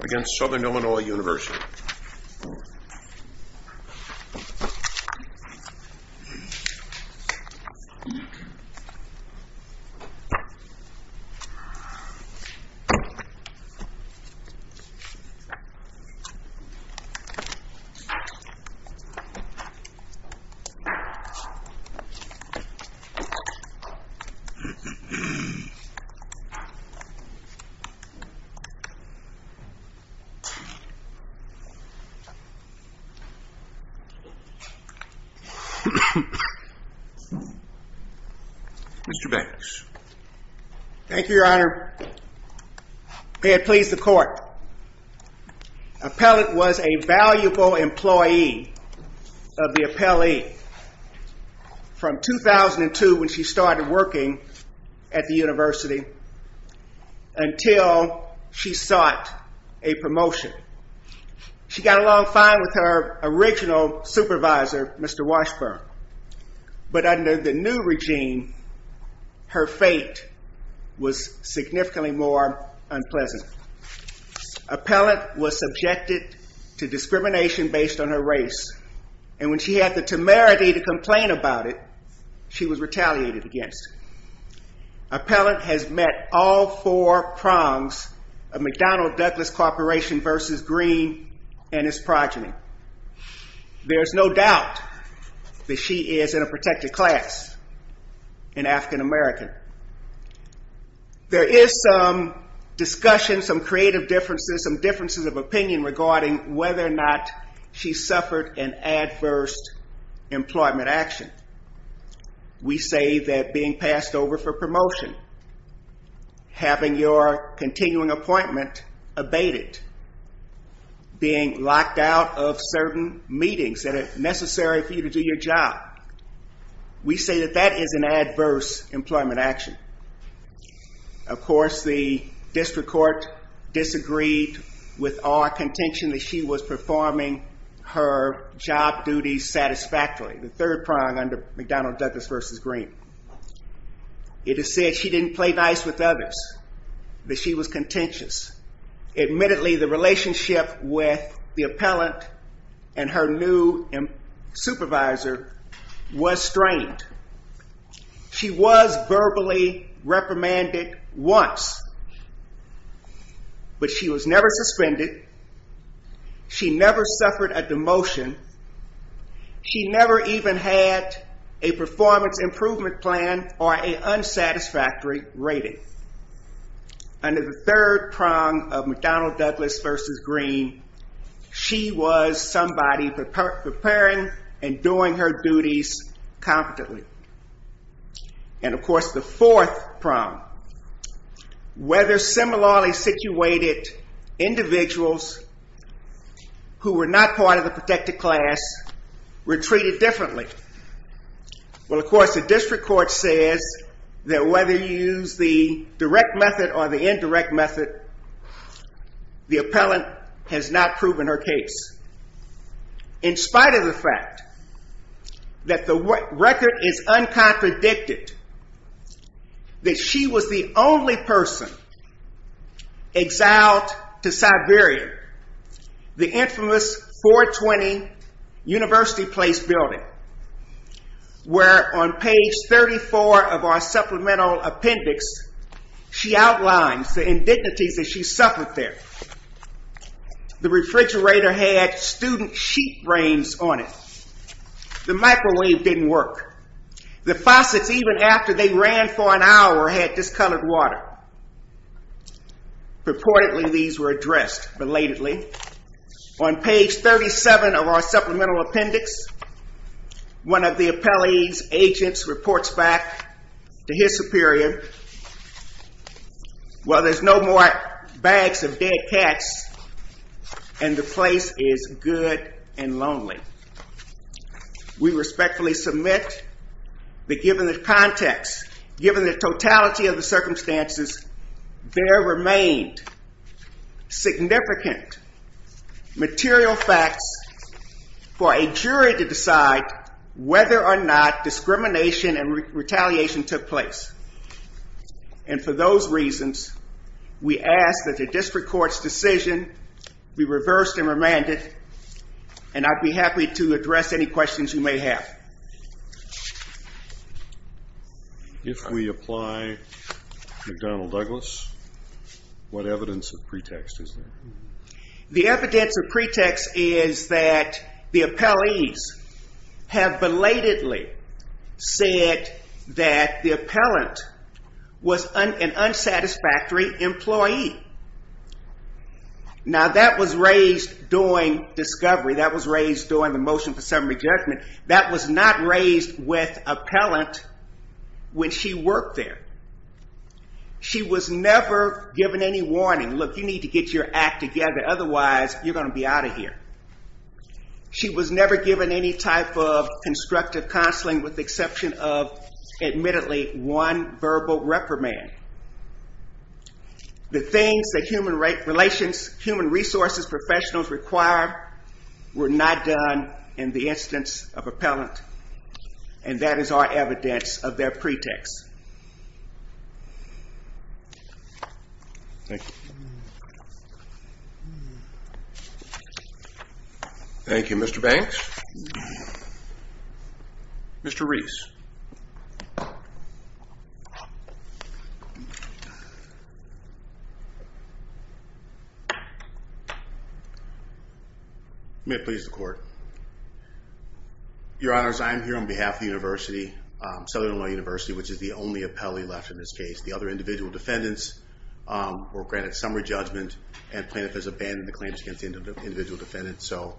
against Southern Illinois University. Mr. Banks. Thank you, your honor. May it please the court. Appellant was a valuable employee of the appellee from 2002 when she started working at the university until she sought a promotion. She got along fine with her original supervisor, Mr. Washburn, but under the new regime, her fate was significantly more unpleasant. Appellant was subjected to discrimination based on her race and when she had the temerity to complain about it, she was retaliated against. Appellant has met all four prongs of McDonnell-Douglas Corporation v. Green and his progeny. There is no doubt that she is in a protected class, an African-American. There is some discussion, some creative differences, some differences of opinion regarding whether or not she suffered an adverse employment action. We say that being passed over for promotion, having your continuing appointment abated, being locked out of certain meetings that are necessary for you to do your job, we say that that is an adverse employment action. Of course, the district court disagreed with our contention that she was performing her job duties satisfactorily, the third prong under McDonnell-Douglas v. Green. It is said she didn't play nice with others, that she was contentious. Admittedly, the relationship with the appellant and her new supervisor was strained. She was verbally reprimanded once, but she was never suspended. She never suffered a demotion. She never even had a performance improvement plan or an unsatisfactory rating. Under the third prong of McDonnell-Douglas v. Green, she was somebody preparing and doing her duties competently. And of course, the fourth prong, whether similarly situated individuals who were not part of the protected class were treated differently. Well, of course, the district court says that whether you use the direct method or the indirect method, the appellant has not proven her case. In spite of the fact that the record is uncontradicted that she was the only person exiled to Siberia, the infamous 420 University Place building, where on page 34 of our supplemental appendix, she outlines the indignities that she suffered there. The refrigerator had student sheet brains on it. The microwave didn't work. The faucets, even after they ran for an hour, had discolored water. Reportedly, these were addressed belatedly. On page 37 of our supplemental appendix, one of the appellee's agents reports back to his superior, well, there's no more bags of dead cats and the place is good and lonely. We respectfully submit that given the context, given the totality of the circumstances, there remained significant material facts for a jury to decide whether or not discrimination and retaliation took place. And for those reasons, we ask that the district court's decision be reversed and remanded. And I'd be happy to address any questions you may have. If we apply McDonnell-Douglas, what evidence of pretext is there? The evidence of pretext is that the appellees have belatedly said that the appellant was an unsatisfactory employee. Now that was raised during discovery, that was raised during the motion for summary judgment. That was not raised with appellant when she worked there. She was never given any warning. Look, you need to get your act together, otherwise you're going to be out of here. She was never given any type of constructive counseling with the exception of, admittedly, one verbal reprimand. The things that human resources professionals require were not done in the instance of appellant, and that is our evidence of their pretext. Thank you. Thank you, Mr. Banks. Mr. Reese. May it please the court. Your Honors, I am here on behalf of the University, Southern Illinois University, which is the only appellee left in this case. The other individual defendants were granted summary judgment and Plaintiff has abandoned the claims against the individual defendants. So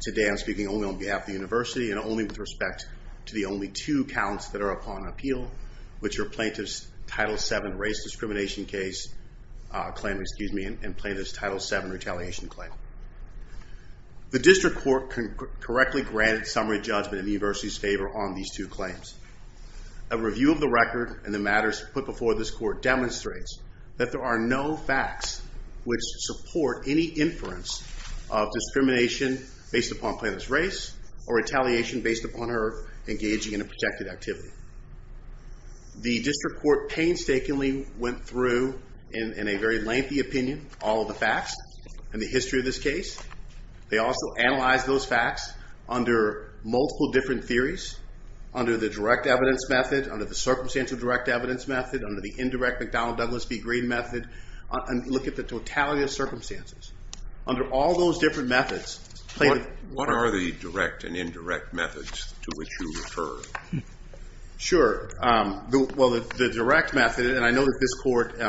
today I'm speaking only on behalf of the University and only with respect to the only two counts that are upon appeal, which are Plaintiff's Title VII Race Discrimination case claim, excuse me, and Plaintiff's Title VII Retaliation claim. The district court correctly granted summary judgment in the University's favor on these two claims. A review of the record and the matters put before this court demonstrates that there are no facts which support any inference of discrimination based upon Plaintiff's race or retaliation based upon her engaging in a protected activity. The district court painstakingly went through, in a very lengthy opinion, all of the facts and the history of this case. They also analyzed those facts under multiple different theories, under the direct evidence method, under the circumstantial direct evidence method, under the indirect McDonnell Douglas v. Green method, and look at the totality of circumstances. Under all those different methods, Plaintiff... What are the direct and indirect methods to which you refer? Sure. Well, the direct method, and I know that this court... What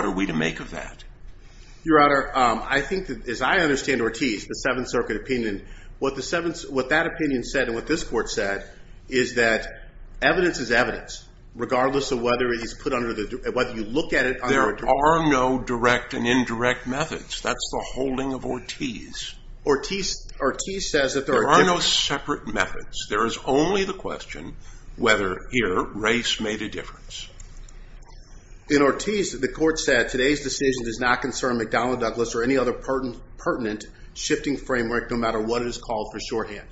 are we to make of that? Your Honor, I think that, as I understand Ortiz, the Seventh Circuit opinion, what that opinion said and what this court said is that evidence is evidence, regardless of whether he's put under the... whether you look at it under a... There are no direct and indirect methods. That's the holding of Ortiz. Ortiz says that there are different... In Ortiz, the court said, today's decision does not concern McDonnell Douglas or any other pertinent shifting framework, no matter what it is called for shorthand.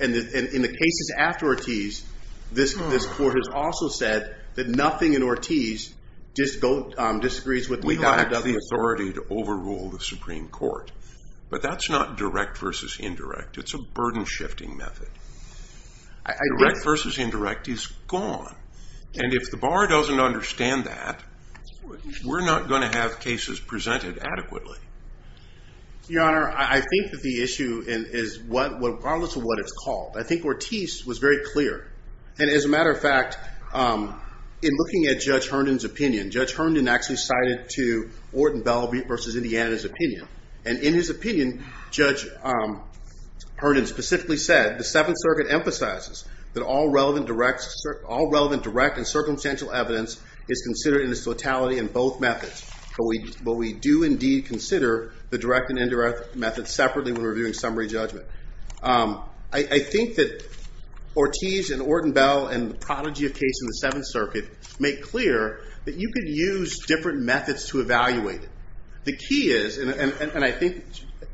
And in the cases after Ortiz, this court has also said that nothing in Ortiz disagrees with McDonnell Douglas. We have the authority to overrule the Supreme Court, but that's not direct versus indirect. It's a burden shifting method. Direct versus indirect is gone. And if the bar doesn't understand that, we're not going to have cases presented adequately. Your Honor, I think that the issue is, regardless of what it's called, I think Ortiz was very clear. And as a matter of fact, in looking at Judge Herndon's opinion, Judge Herndon actually cited to Orton Bell v. Indiana's opinion. And in his opinion, Judge Herndon specifically said, the Seventh Circuit emphasizes that all relevant direct and circumstantial evidence is considered in its totality in both methods. But we do indeed consider the direct and indirect methods separately when reviewing summary judgment. I think that Ortiz and Orton Bell and the prodigy of case in the Seventh Circuit make clear that you can use different methods to evaluate it. The key is, and I think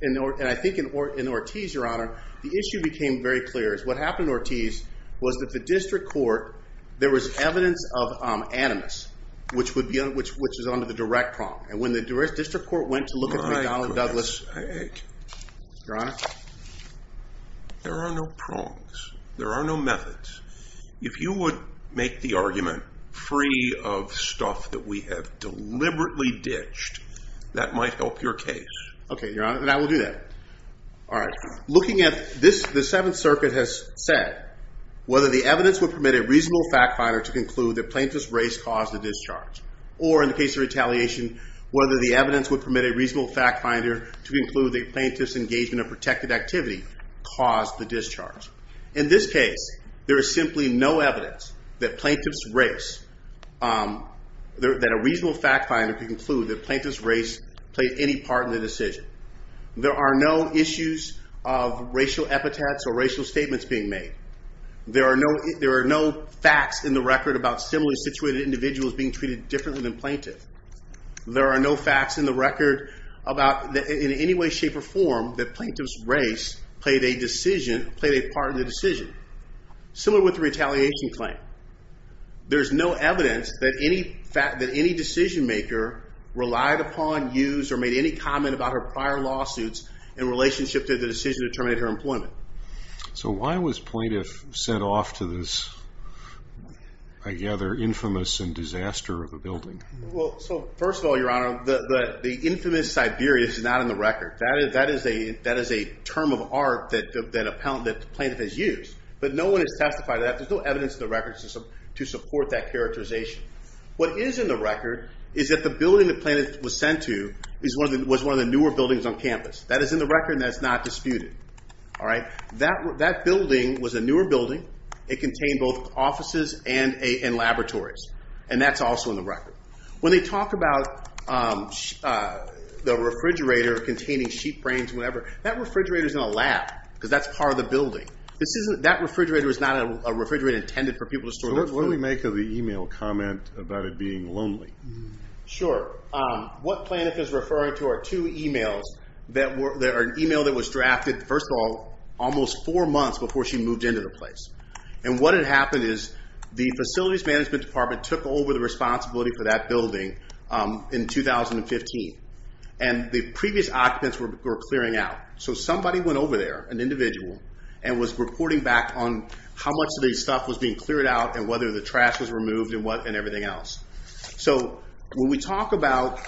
in Ortiz, Your Honor, the issue became very clear. What happened in Ortiz was that the district court, there was evidence of animus, which is under the direct prong. And when the district court went to look at McDonnell Douglas, Your Honor, there are no prongs. There are no methods. If you would make the argument free of stuff that we have deliberately ditched, that might help your case. Okay, Your Honor, and I will do that. All right. Looking at this, the Seventh Circuit has said, whether the evidence would permit a reasonable fact finder to conclude that plaintiff's race caused the discharge. Or in the case of retaliation, whether the evidence would permit a reasonable fact finder to include the plaintiff's engagement of protected activity caused the discharge. In this case, there is simply no evidence that plaintiff's race, that a reasonable fact finder could conclude that plaintiff's race played any part in the decision. There are no issues of racial epithets or racial statements being made. There are no facts in the record about similarly situated individuals being treated differently than plaintiff. There are no facts in the record about in any way, shape, or form that plaintiff's race played a decision, played a part in the decision. Similar with the retaliation claim. There's no evidence that any decision maker relied upon, used, or made any comment about her prior lawsuits in relationship to the decision to terminate her employment. So why was plaintiff sent off to this, I gather, infamous and disaster of a building? Well, so first of all, your honor, the infamous Siberia is not in the record. That is a term of art that a plaintiff has used. But no one has testified to that. There's no evidence in the record to support that characterization. What is in the record is that the building that plaintiff was sent to was one of the newer buildings on campus. That is in the record and that is not disputed. That building was a newer building. It contained both offices and laboratories. And that's also in the record. When they talk about the refrigerator containing sheep brains and whatever, that refrigerator is in a lab because that's part of the building. That refrigerator is not a refrigerator intended for people to store their food. So what do we make of the email comment about it being lonely? Sure. What plaintiff is referring to are two emails that are an email that was drafted, first of all, almost four months before she moved into the place. And what had happened is the Facilities Management Department took over the responsibility for that building in 2015. And the previous occupants were clearing out. So somebody went over there, an individual, and was reporting back on how much of the stuff was being cleared out and whether the trash was removed and everything else. So when we talk about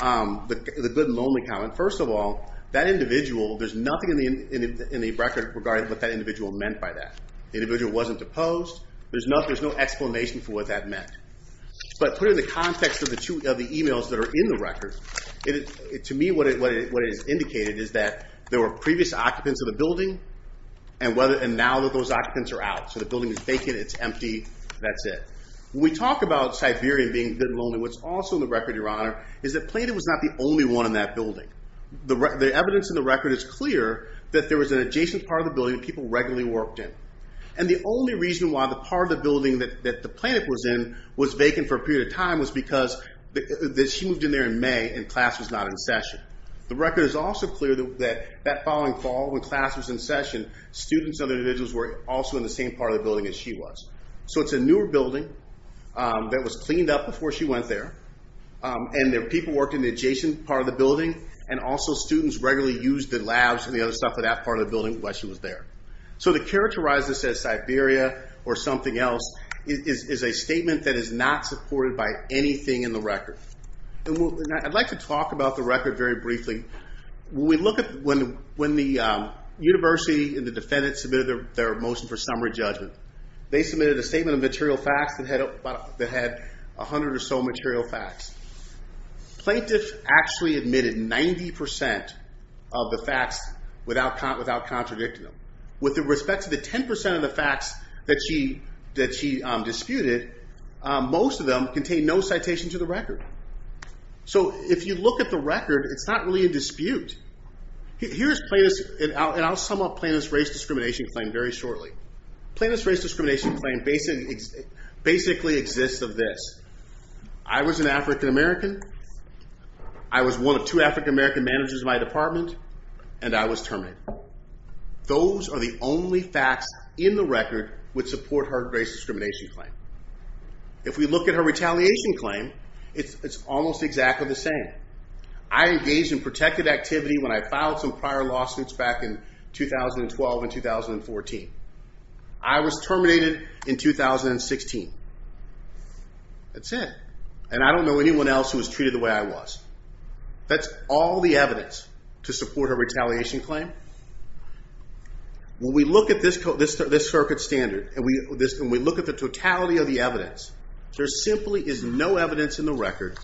the good and lonely comment, first of all, that individual, there's nothing in the record regarding what that individual meant by that. The individual wasn't deposed. There's no explanation for what that meant. But put in the context of the emails that are in the record, to me what it has indicated is that there were previous occupants of the building and now that those occupants are out. So the building is vacant. It's empty. That's it. When we talk about Siberian being good and lonely, what's also in the record, Your Honor, is that plaintiff was not the only one in that building. The evidence in the record is clear that there was an adjacent part of the building that people regularly worked in. And the only reason why the part of the building that the plaintiff was in was vacant for a period of time was because she moved in there in May and class was not in session. The record is also clear that that following fall when class was in session, students and other individuals were also in the same part of the building as she was. So it's a newer building that was cleaned up before she went there. And people worked in the adjacent part of the building and also students regularly used the labs and the other stuff in that part of the building while she was there. So to characterize this as Siberia or something else is a statement that is not supported by anything in the record. I'd like to talk about the record very briefly. When the university and the defendant submitted their motion for summary judgment, they submitted a statement of material facts that had 100 or so material facts. Plaintiff actually admitted 90% of the facts without contradicting them. With respect to the 10% of the facts that she disputed, most of them contain no citation to the record. So if you look at the record, it's not really a dispute. Here's plaintiff's and I'll sum up plaintiff's race discrimination claim very shortly. Plaintiff's race discrimination claim basically exists of this. I was an African American. I was one of two African American managers in my department. And I was terminated. Those are the only facts in the record which support her race discrimination claim. If we look at her retaliation claim, it's almost exactly the same. I engaged in protected activity when I filed some prior lawsuits back in 2012 and 2014. I was terminated in 2016. That's it. And I don't know anyone else who was treated the way I was. That's all the evidence to support her retaliation claim. When we look at this circuit standard and we look at the totality of the evidence, there simply is no evidence in the record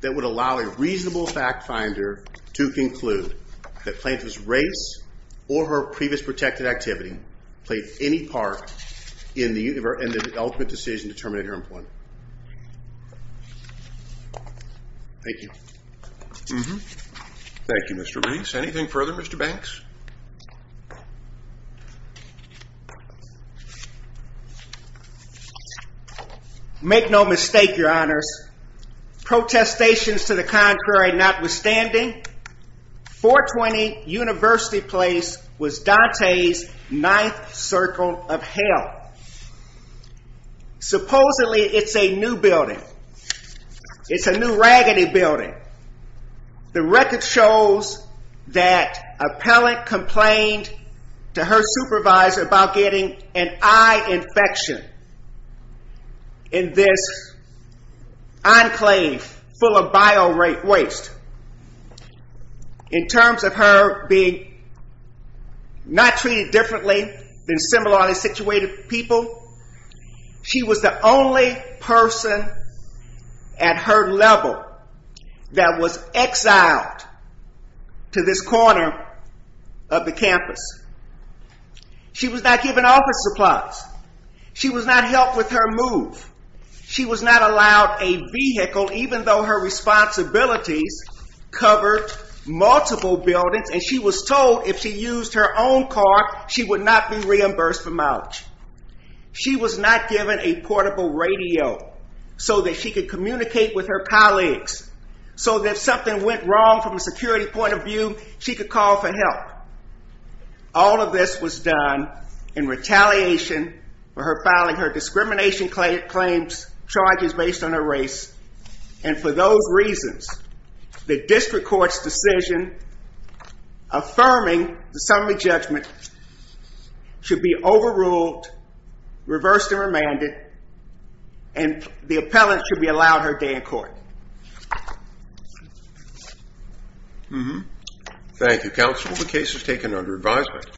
that would allow a reasonable fact finder to conclude that plaintiff's race or her previous protected activity played any part in the ultimate decision to terminate her employment. Thank you. Thank you, Mr. Lease. Anything further, Mr. Banks? Make no mistake, your honors, protestations to the contrary notwithstanding, 420 University Place was Dante's ninth circle of hell. Supposedly, it's a new building. It's a new raggedy building. The record shows that appellant complained to her supervisor about getting an eye infection in this enclave full of bio-waste. In terms of her being not treated differently than similarly situated people, she was the only person at her level that was exiled to this corner of the campus. She was not given office supplies. She was not helped with her move. She was not allowed a vehicle even though her responsibilities covered multiple buildings and she was told if she used her own car, she would not be reimbursed for mileage. She was not given a portable radio so that she could communicate with her colleagues so that if something went wrong from a security point of view, she could call for help. All of this was done in retaliation for her filing her discrimination claims charges based on her race and for those reasons, the district court's decision affirming the summary judgment should be overruled, reversed and remanded, and the appellant should be allowed her day in court. Thank you, counsel. The case is taken under advisement.